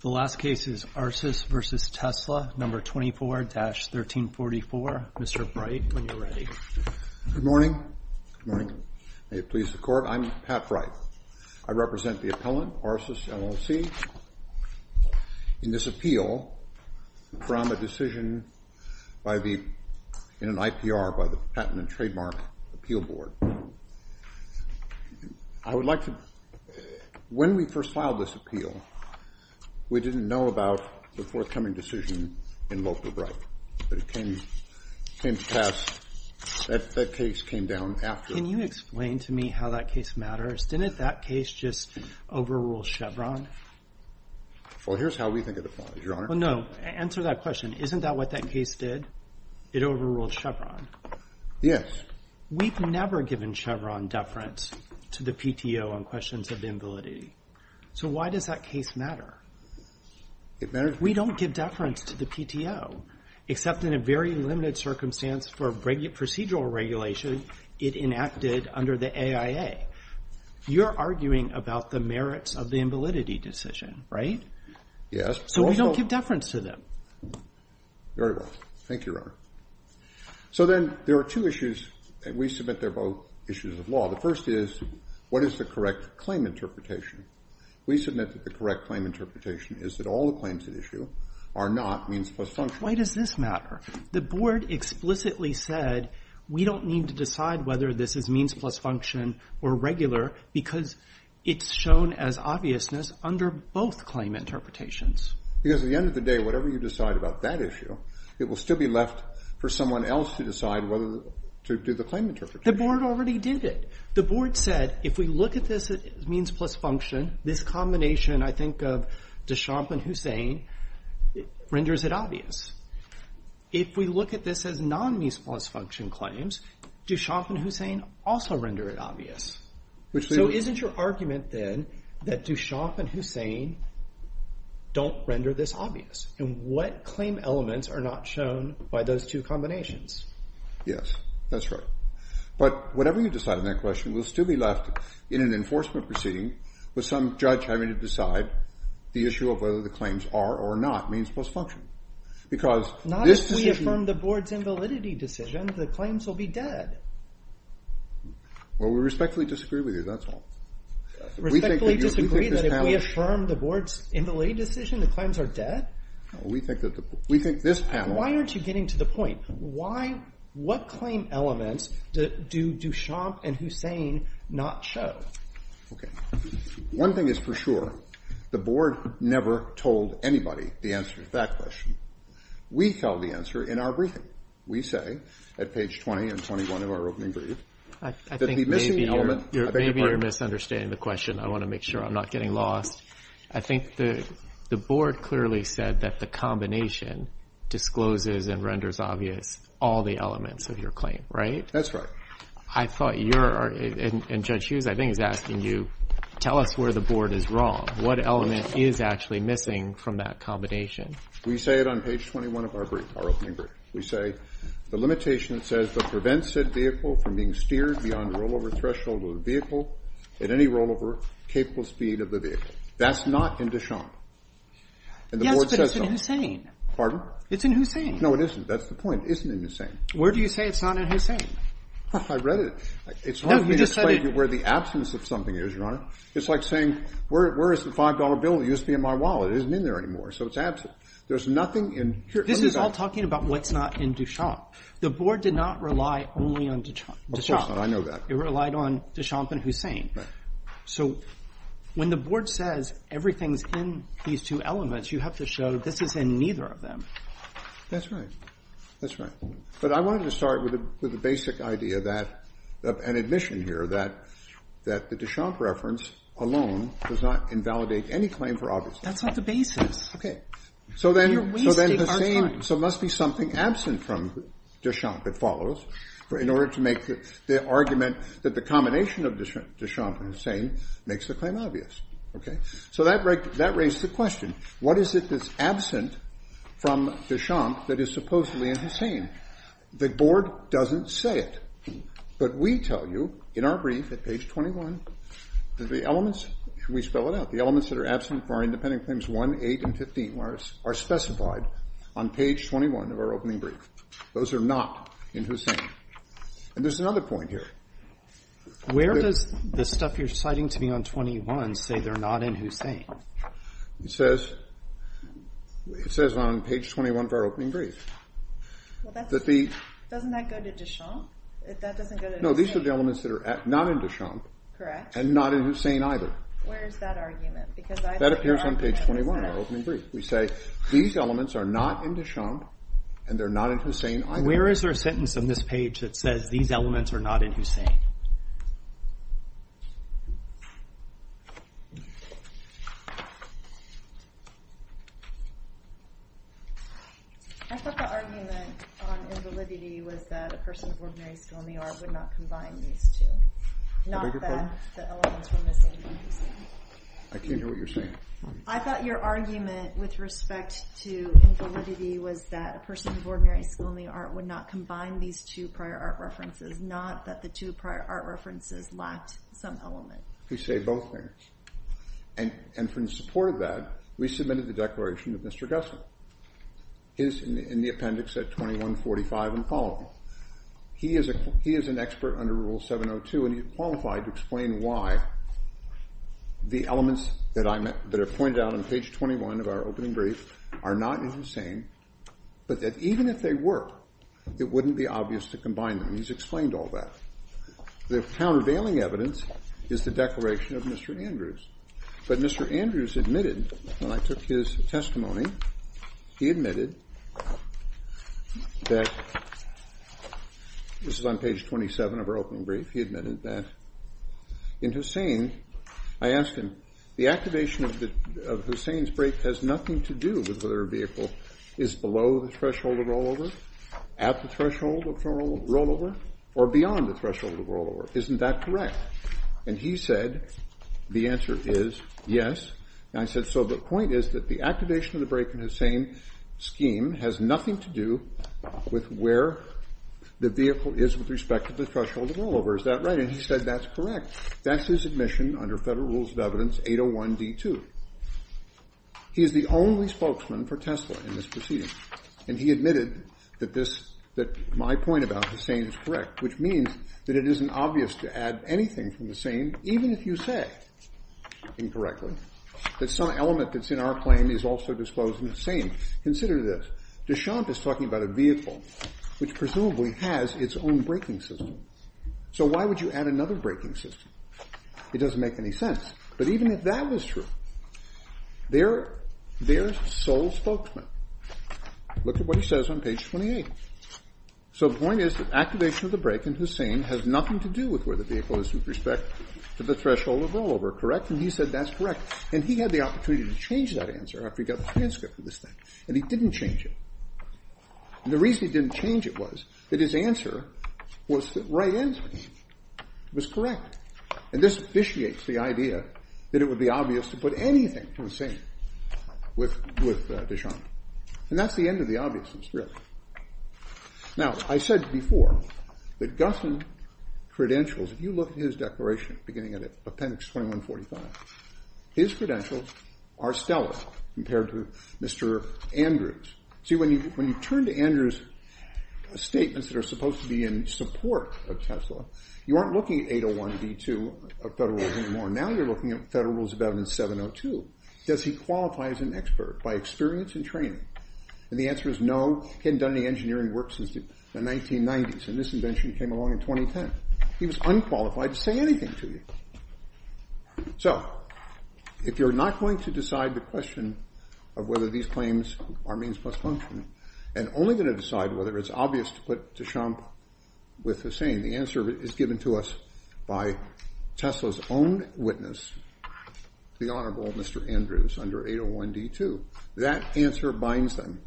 The last case is Arsus v. Tesla, No. 24-1344. Mr. Bright, when you're ready. Good morning. May it please the Court, I'm Pat Bright. I represent the appellant, Arsus, LLC, in this appeal from a decision in an IPR by the Patent and Trademark Appeal Board. I would like to, when we first filed this appeal, we didn't know about the forthcoming decision in Loper-Bright, but it came to pass, that case came down after. Can you explain to me how that case matters? Didn't that case just overrule Chevron? Well, here's how we think of the problem, Your Honor. Well, no, answer that question. Isn't that what that case did? It overruled Chevron? Yes. We've never given Chevron deference to the PTO on questions of invalidity. So why does that case matter? It matters. We don't give deference to the PTO, except in a very limited circumstance for procedural regulation it enacted under the AIA. You're arguing about the merits of the invalidity decision, right? Yes. So we don't give deference to them. Very well. Thank you, Your Honor. So then there are two issues, and we submit they're both issues of law. The first is what is the correct claim interpretation? We submit that the correct claim interpretation is that all the claims at issue are not means plus function. Why does this matter? The Board explicitly said we don't need to decide whether this is means plus function or regular because it's shown as obviousness under both claim interpretations. Because at the end of the day, whatever you decide about that issue, it will still be left for someone else to decide whether to do the claim interpretation. The Board already did it. The Board said if we look at this as means plus function, this combination I think of Duchamp and Hussain renders it obvious. If we look at this as non-means plus function claims, Duchamp and Hussain also render it obvious. So isn't your argument then that Duchamp and Hussain don't render this obvious? And what claim elements are not shown by those two combinations? Yes, that's right. But whatever you decide on that question will still be left in an enforcement proceeding with some judge having to decide the issue of whether the claims are or are not means plus function. Not if we affirm the Board's invalidity decision, the claims will be dead. Well, we respectfully disagree with you. That's all. Respectfully disagree that if we affirm the Board's invalidity decision, the claims are dead? No, we think that the – we think this panel – Why aren't you getting to the point? Why – what claim elements do Duchamp and Hussain not show? Okay. One thing is for sure. The Board never told anybody the answer to that question. We held the answer in our briefing. We say at page 20 and 21 of our opening brief that the missing element – Maybe you're misunderstanding the question. I want to make sure I'm not getting lost. I think the Board clearly said that the combination discloses and renders obvious all the elements of your claim, right? That's right. I thought you're – and Judge Hughes, I think, is asking you, tell us where the Board is wrong. What element is actually missing from that combination? We say it on page 21 of our brief, our opening brief. We say the limitation says that prevents said vehicle from being steered beyond the rollover threshold of the vehicle at any rollover-capable speed of the vehicle. That's not in Duchamp. Yes, but it's in Hussain. Pardon? It's in Hussain. No, it isn't. That's the point. It isn't in Hussain. Where do you say it's not in Hussain? I read it. No, you just said it. It's hard for me to explain to you where the absence of something is, Your Honor. It's like saying, where is the $5 bill that used to be in my wallet? It isn't in there anymore, so it's absent. There's nothing in – This is all talking about what's not in Duchamp. The Board did not rely only on Duchamp. Of course not. I know that. It relied on Duchamp and Hussain. Right. So when the Board says everything's in these two elements, you have to show this is in neither of them. That's right. That's right. But I wanted to start with the basic idea of an admission here that the Duchamp reference alone does not invalidate any claim for obviousness. That's not the basis. Okay. You're wasting our time. So then Hussain – so it must be something absent from Duchamp that follows in order to make the argument that the combination of Duchamp and Hussain makes the claim obvious. Okay? So that raised the question, what is it that's absent from Duchamp that is supposedly in Hussain? The Board doesn't say it. But we tell you in our brief at page 21 that the elements – should we spell it out? The elements that are absent from our independent claims 1, 8, and 15 are specified on page 21 of our opening brief. Those are not in Hussain. And there's another point here. Where does the stuff you're citing to me on 21 say they're not in Hussain? It says on page 21 of our opening brief that the – Doesn't that go to Duchamp? That doesn't go to Hussain. No, these are the elements that are not in Duchamp. Correct. And not in Hussain either. Where is that argument? That appears on page 21 of our opening brief. We say these elements are not in Duchamp and they're not in Hussain either. Where is there a sentence on this page that says these elements are not in Hussain? I thought the argument on invalidity was that a person of ordinary skill in the art would not combine these two. Not that the elements were missing from Hussain. I can't hear what you're saying. I thought your argument with respect to invalidity was that a person of ordinary skill in the art would not combine these two prior art references. Not that the two prior art references lacked some element. We say both there. And in support of that, we submitted the declaration of Mr. Gusson. It is in the appendix at 2145 and followed. He is an expert under Rule 702 and he qualified to explain why the elements that are pointed out on page 21 of our opening brief are not in Hussain. But that even if they were, it wouldn't be obvious to combine them. He's explained all that. The countervailing evidence is the declaration of Mr. Andrews. But Mr. Andrews admitted, when I took his testimony, he admitted that this is on page 27 of our opening brief. He admitted that in Hussain, I asked him, the activation of Hussain's brake has nothing to do with whether a vehicle is below the threshold of rollover, at the threshold of rollover, or beyond the threshold of rollover. Isn't that correct? And he said, the answer is yes. And I said, so the point is that the activation of the brake in Hussain's scheme has nothing to do with where the vehicle is with respect to the threshold of rollover. Is that right? And he said, that's correct. That's his admission under Federal Rules of Evidence 801D2. He is the only spokesman for Tesla in this proceeding. And he admitted that my point about Hussain is correct, which means that it isn't obvious to add anything from Hussain, even if you say incorrectly, that some element that's in our claim is also disclosed in Hussain. Consider this. Deschamps is talking about a vehicle, which presumably has its own braking system. So why would you add another braking system? It doesn't make any sense. But even if that was true, they're sole spokesmen. Look at what he says on page 28. So the point is that activation of the brake in Hussain has nothing to do with where the vehicle is with respect to the threshold of rollover, correct? And he said, that's correct. And he had the opportunity to change that answer after he got the transcript of this thing. And he didn't change it. And the reason he didn't change it was that his answer was the right answer. It was correct. And this officiates the idea that it would be obvious to put anything from Hussain with Deschamps. And that's the end of the obviousness, really. Now, I said before that Gusson credentials, if you look at his declaration beginning at appendix 2145, his credentials are stellar compared to Mr. Andrews. See, when you turn to Andrews' statements that are supposed to be in support of Tesla, you aren't looking at 801B2 of Federal Rules anymore. Now you're looking at Federal Rules of Evidence 702. Does he qualify as an expert by experience and training? And the answer is no. He hadn't done any engineering work since the 1990s. And this invention came along in 2010. He was unqualified to say anything to you. So if you're not going to decide the question of whether these claims are means plus function and only going to decide whether it's obvious to put Deschamps with Hussain, the answer is given to us by Tesla's own witness, the Honorable Mr. Andrews, under 801D2. That answer binds them.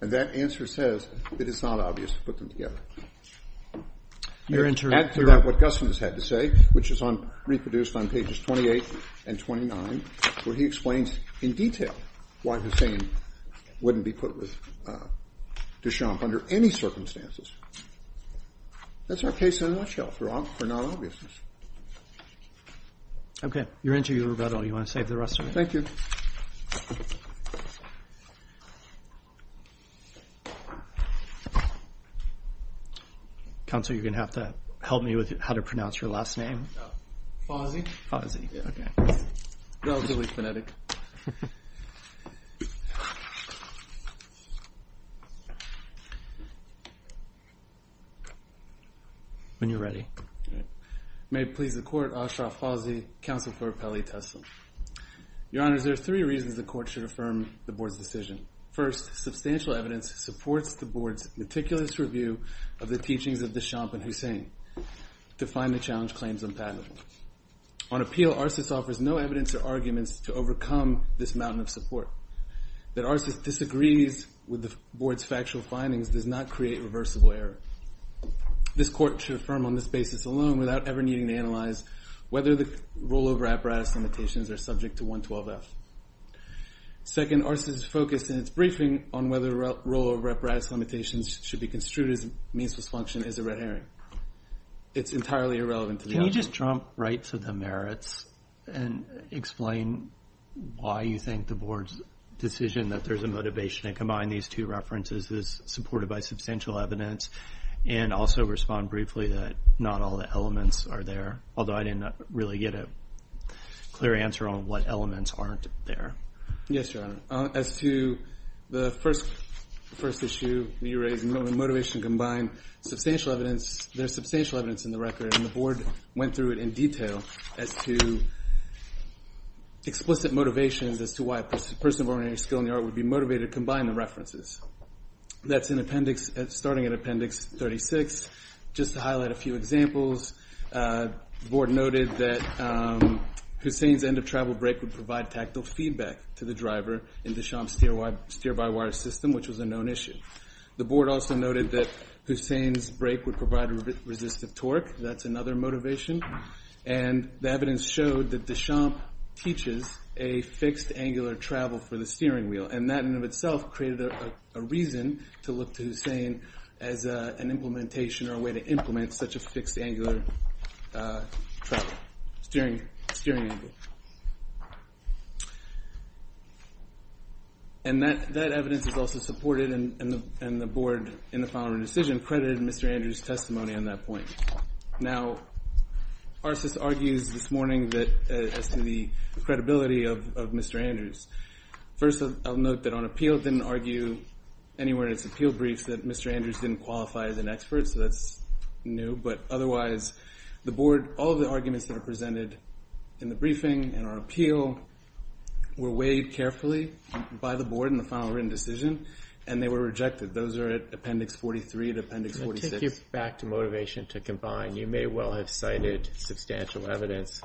And that answer says that it's not obvious to put them together. Add to that what Guston has had to say, which is reproduced on pages 28 and 29, where he explains in detail why Hussain wouldn't be put with Deschamps under any circumstances. That's our case in a nutshell, for not obviousness. Roberts. Okay. Your interview is about all. You want to save the rest of it? Thank you. Counsel, you're going to have to help me with how to pronounce your last name. Fossey. Fossey. Relatively phonetic. When you're ready. May it please the court, Ashraf Fossey, counsel for Appellee Tesla. Your Honors, there are three reasons the court should affirm the board's decision. First, substantial evidence supports the board's meticulous review of the teachings of Deschamps and Hussain to find the challenge claims unpalatable. On appeal, Arsys offers no evidence or arguments to overcome this mountain of support. That Arsys disagrees with the board's factual findings does not create reversible error. This court should affirm on this basis alone without ever needing to analyze whether the rollover apparatus limitations are subject to 112-F. Second, Arsys' focus in its briefing on whether rollover apparatus limitations should be construed as a meansless function is a red herring. It's entirely irrelevant to the other. Can you just jump right to the merits and explain why you think the board's decision that there's a motivation to combine these two references is supported by substantial evidence? And also respond briefly that not all the elements are there, although I didn't really get a clear answer on what elements aren't there. Yes, Your Honor. As to the first issue that you raised, motivation combined, substantial evidence, there's substantial evidence in the record, and the board went through it in detail as to explicit motivations as to why a person of ordinary skill in the art would be motivated to combine the references. That's starting in Appendix 36. Just to highlight a few examples, the board noted that Hussein's end of travel brake would provide tactile feedback to the driver in Deschamps' steer-by-wire system, which was a known issue. The board also noted that Hussein's brake would provide resistive torque. That's another motivation. And the evidence showed that Deschamps teaches a fixed angular travel for the steering wheel, and that in and of itself created a reason to look to Hussein as an implementation or a way to implement such a fixed angular travel, steering angle. And that evidence is also supported, and the board, in the following decision, credited Mr. Andrews' testimony on that point. Now, Arsys argues this morning as to the credibility of Mr. Andrews. First, I'll note that on appeal, it didn't argue anywhere in its appeal briefs that Mr. Andrews didn't qualify as an expert, so that's new. But otherwise, the board, all of the arguments that are presented in the briefing and on appeal were weighed carefully by the board in the following decision, and they were rejected. Those are at Appendix 43 and Appendix 46. I take you back to motivation to combine. You may well have cited substantial evidence.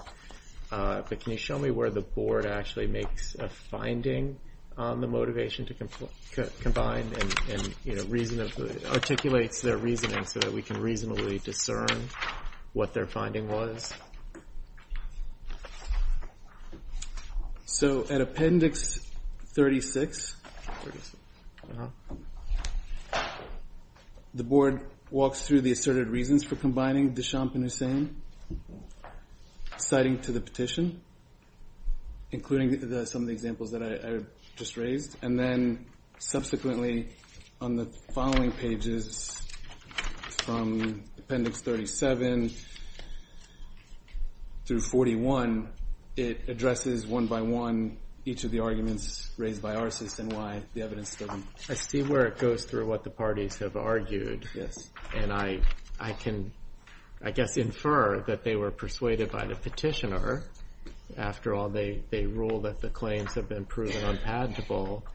But can you show me where the board actually makes a finding on the motivation to combine and articulates their reasoning so that we can reasonably discern what their finding was? So at Appendix 36, the board walks through the asserted reasons for combining Deschamps and Hussein. Citing to the petition, including some of the examples that I just raised. And then subsequently, on the following pages, from Appendix 37 through 41, it addresses one by one each of the arguments raised by Arsys and why the evidence doesn't. I see where it goes through what the parties have argued. Yes. And I can, I guess, infer that they were persuaded by the petitioner. After all, they rule that the claims have been proven unpalatable.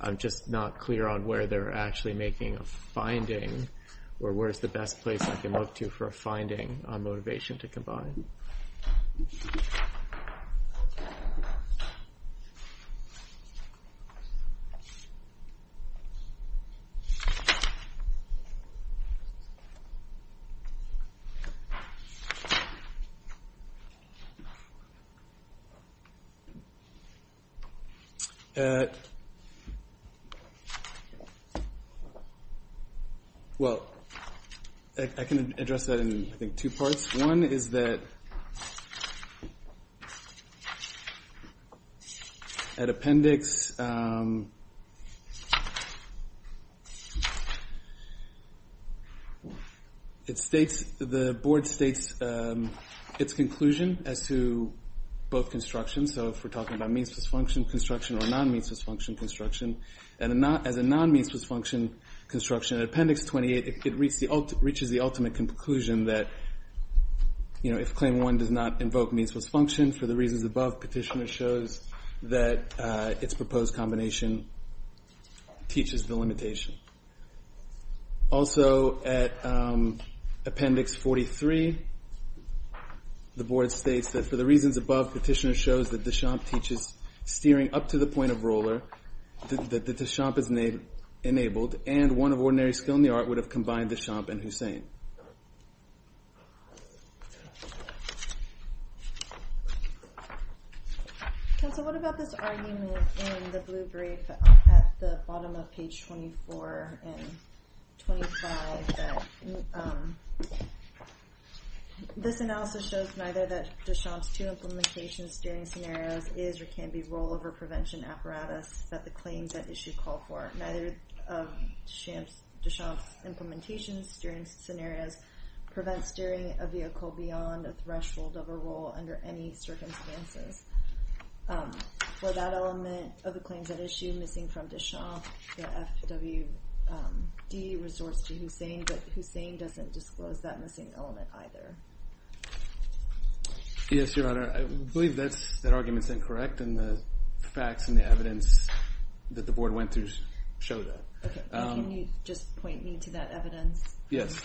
I'm just not clear on where they're actually making a finding or where's the best place I can look to for a finding on motivation to combine. Well, I can address that in, I think, two parts. One is that at Appendix, it states, the board states its conclusion as to both constructions. So if we're talking about means-plus-function construction or non-means-plus-function construction. And as a non-means-plus-function construction, at Appendix 28, it reaches the ultimate conclusion that if Claim 1 does not invoke means-plus-function, for the reasons above, petitioner shows that its proposed combination teaches the limitation. Also, at Appendix 43, the board states that for the reasons above, petitioner shows that Deschamps teaches steering up to the point of roller, that Deschamps is enabled, and one of ordinary skill in the art would have combined Deschamps and Hussain. Counsel, what about this argument in the blue brief at the bottom of page 24 and 25? This analysis shows neither that Deschamps' two implementation steering scenarios is or can be rollover prevention apparatus that the claims at issue call for. Neither of Deschamps' implementation steering scenarios prevents steering a vehicle beyond a threshold of a roll under any circumstances. For that element of the claims at issue missing from Deschamps, the FWD resorts to Hussain, but Hussain doesn't disclose that missing element either. Yes, Your Honor, I believe that argument is incorrect, and the facts and the evidence that the board went through show that. Can you just point me to that evidence? Yes.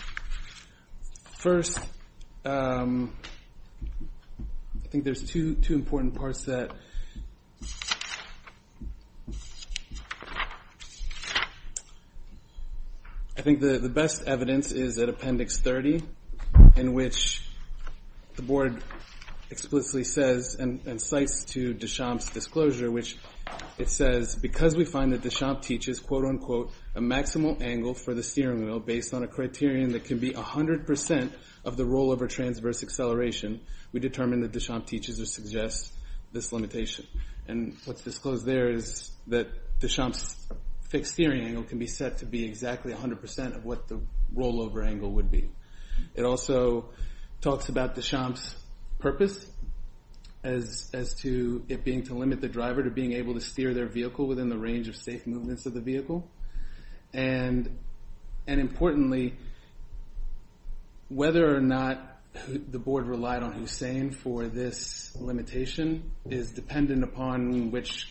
First, I think there's two important parts that I think the best evidence is at Appendix 30, in which the board explicitly says and cites to Deschamps' disclosure, which it says, because we find that Deschamps teaches, quote unquote, a maximal angle for the steering wheel based on a criterion that can be 100% of the rollover transverse acceleration, we determine that Deschamps teaches or suggests this limitation. And what's disclosed there is that Deschamps' fixed steering angle can be set to be exactly 100% of what the rollover angle would be. It also talks about Deschamps' purpose as to it being to limit the driver to being able to steer their vehicle within the range of safe movements of the vehicle. And importantly, whether or not the board relied on Hussain for this limitation is dependent upon which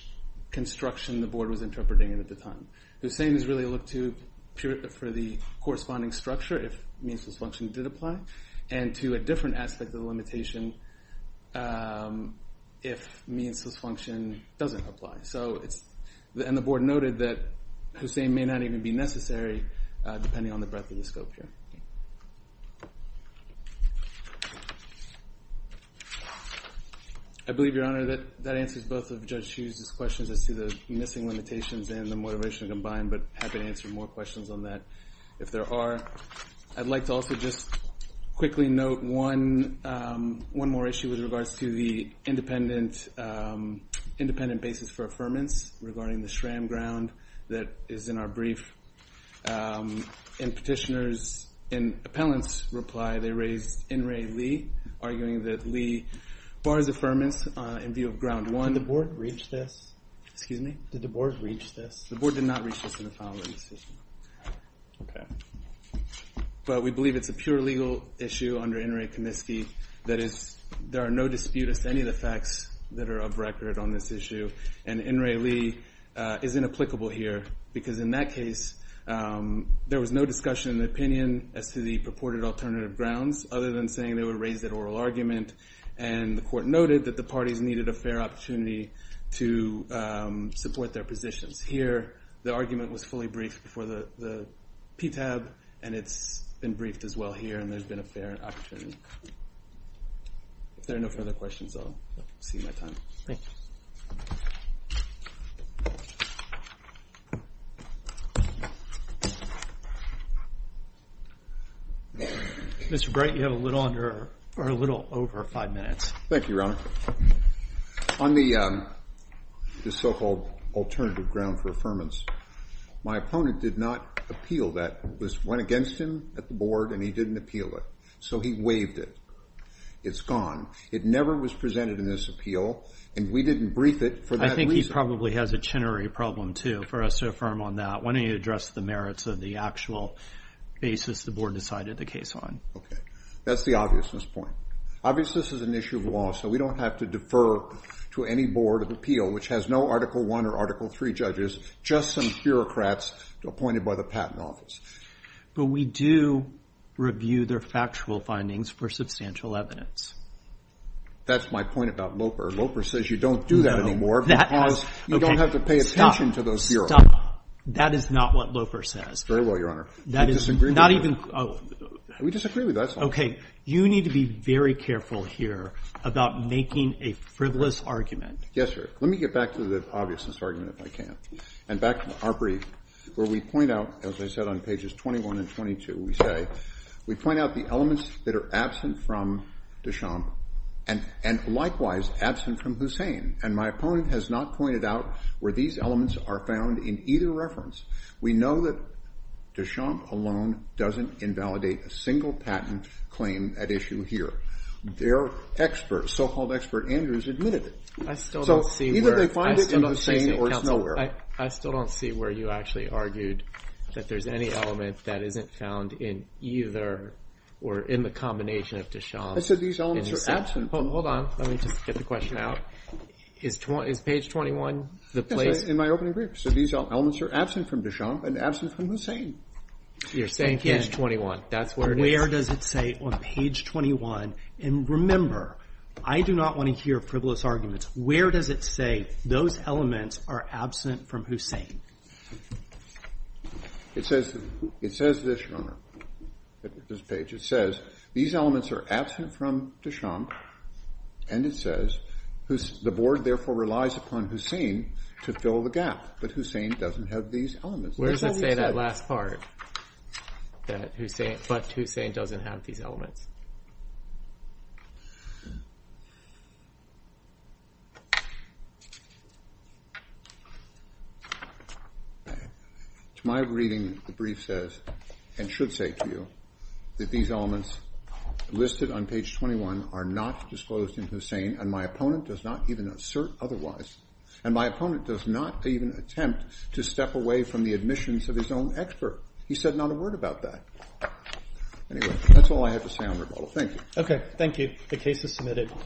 construction the board was interpreting at the time. Hussain is really looked to for the corresponding structure, if meansless function did apply, and to a different aspect of the limitation if meansless function doesn't apply. And the board noted that Hussain may not even be necessary, depending on the breadth of the scope here. I believe, Your Honor, that answers both of Judge Hughes' questions as to the missing limitations and the motivation combined, but happy to answer more questions on that if there are. I'd like to also just quickly note one more issue with regards to the independent basis for affirmance regarding the SRAM ground that is in our brief. In Petitioner's and Appellant's reply, they raised N. Ray Lee, arguing that Lee bars affirmance in view of ground one. Did the board reach this? Excuse me? Did the board reach this? The board did not reach this in the following statement. Okay. But we believe it's a pure legal issue under N. Ray Kuniski that there are no disputes to any of the facts that are of record on this issue. And N. Ray Lee is inapplicable here, because in that case, there was no discussion in the opinion as to the purported alternative grounds, other than saying they would raise that oral argument. And the court noted that the parties needed a fair opportunity to support their positions. Here, the argument was fully briefed before the PTAB, and it's been briefed as well here, and there's been a fair opportunity. If there are no further questions, I'll exceed my time. Thank you. Mr. Bright, you have a little over five minutes. Thank you, Your Honor. On the so-called alternative ground for affirmance, my opponent did not appeal that. This went against him at the board, and he didn't appeal it. So he waived it. It's gone. It never was presented in this appeal, and we didn't brief it for that reason. I think he probably has a chinery problem, too, for us to affirm on that. Why don't you address the merits of the actual basis the board decided the case on? Okay. That's the obviousness point. Obviousness is an issue of law, so we don't have to defer to any board of appeal, which has no Article I or Article III judges, just some bureaucrats appointed by the Patent Office. But we do review their factual findings for substantial evidence. That's my point about Loper. Loper says you don't do that anymore because you don't have to pay attention to those bureaus. That is not what Loper says. Very well, Your Honor. That is not even – We disagree with that. Okay. You need to be very careful here about making a frivolous argument. Yes, sir. Let me get back to the obviousness argument, if I can, and back to our brief, where we point out, as I said, on pages 21 and 22, we say, we point out the elements that are absent from Deschamp and likewise absent from Hussain, and my opponent has not pointed out where these elements are found in either reference. We know that Deschamp alone doesn't invalidate a single patent claim at issue here. Their expert, so-called expert Andrews, admitted it. I still don't see where – So either they find it in Hussain or it's nowhere. I still don't see where you actually argued that there's any element that isn't found in either or in the combination of Deschamp and Hussain. I said these elements are absent from – Hold on. Let me just get the question out. Is page 21 the place – Yes, sir. In my opening brief, I said these elements are absent from Deschamp and absent from Hussain. You're saying page 21. That's where it is. And remember, I do not want to hear frivolous arguments. Where does it say those elements are absent from Hussain? It says this, Your Honor, at this page. It says these elements are absent from Deschamp, and it says the board therefore relies upon Hussain to fill the gap, but Hussain doesn't have these elements. Where does it say that last part, that Hussain – but Hussain doesn't have these elements? To my reading, the brief says, and should say to you, that these elements listed on page 21 are not disclosed in Hussain, and my opponent does not even assert otherwise. And my opponent does not even attempt to step away from the admissions of his own expert. He said not a word about that. Anyway, that's all I have to say on rebuttal. Thank you. Thank you. The case is submitted.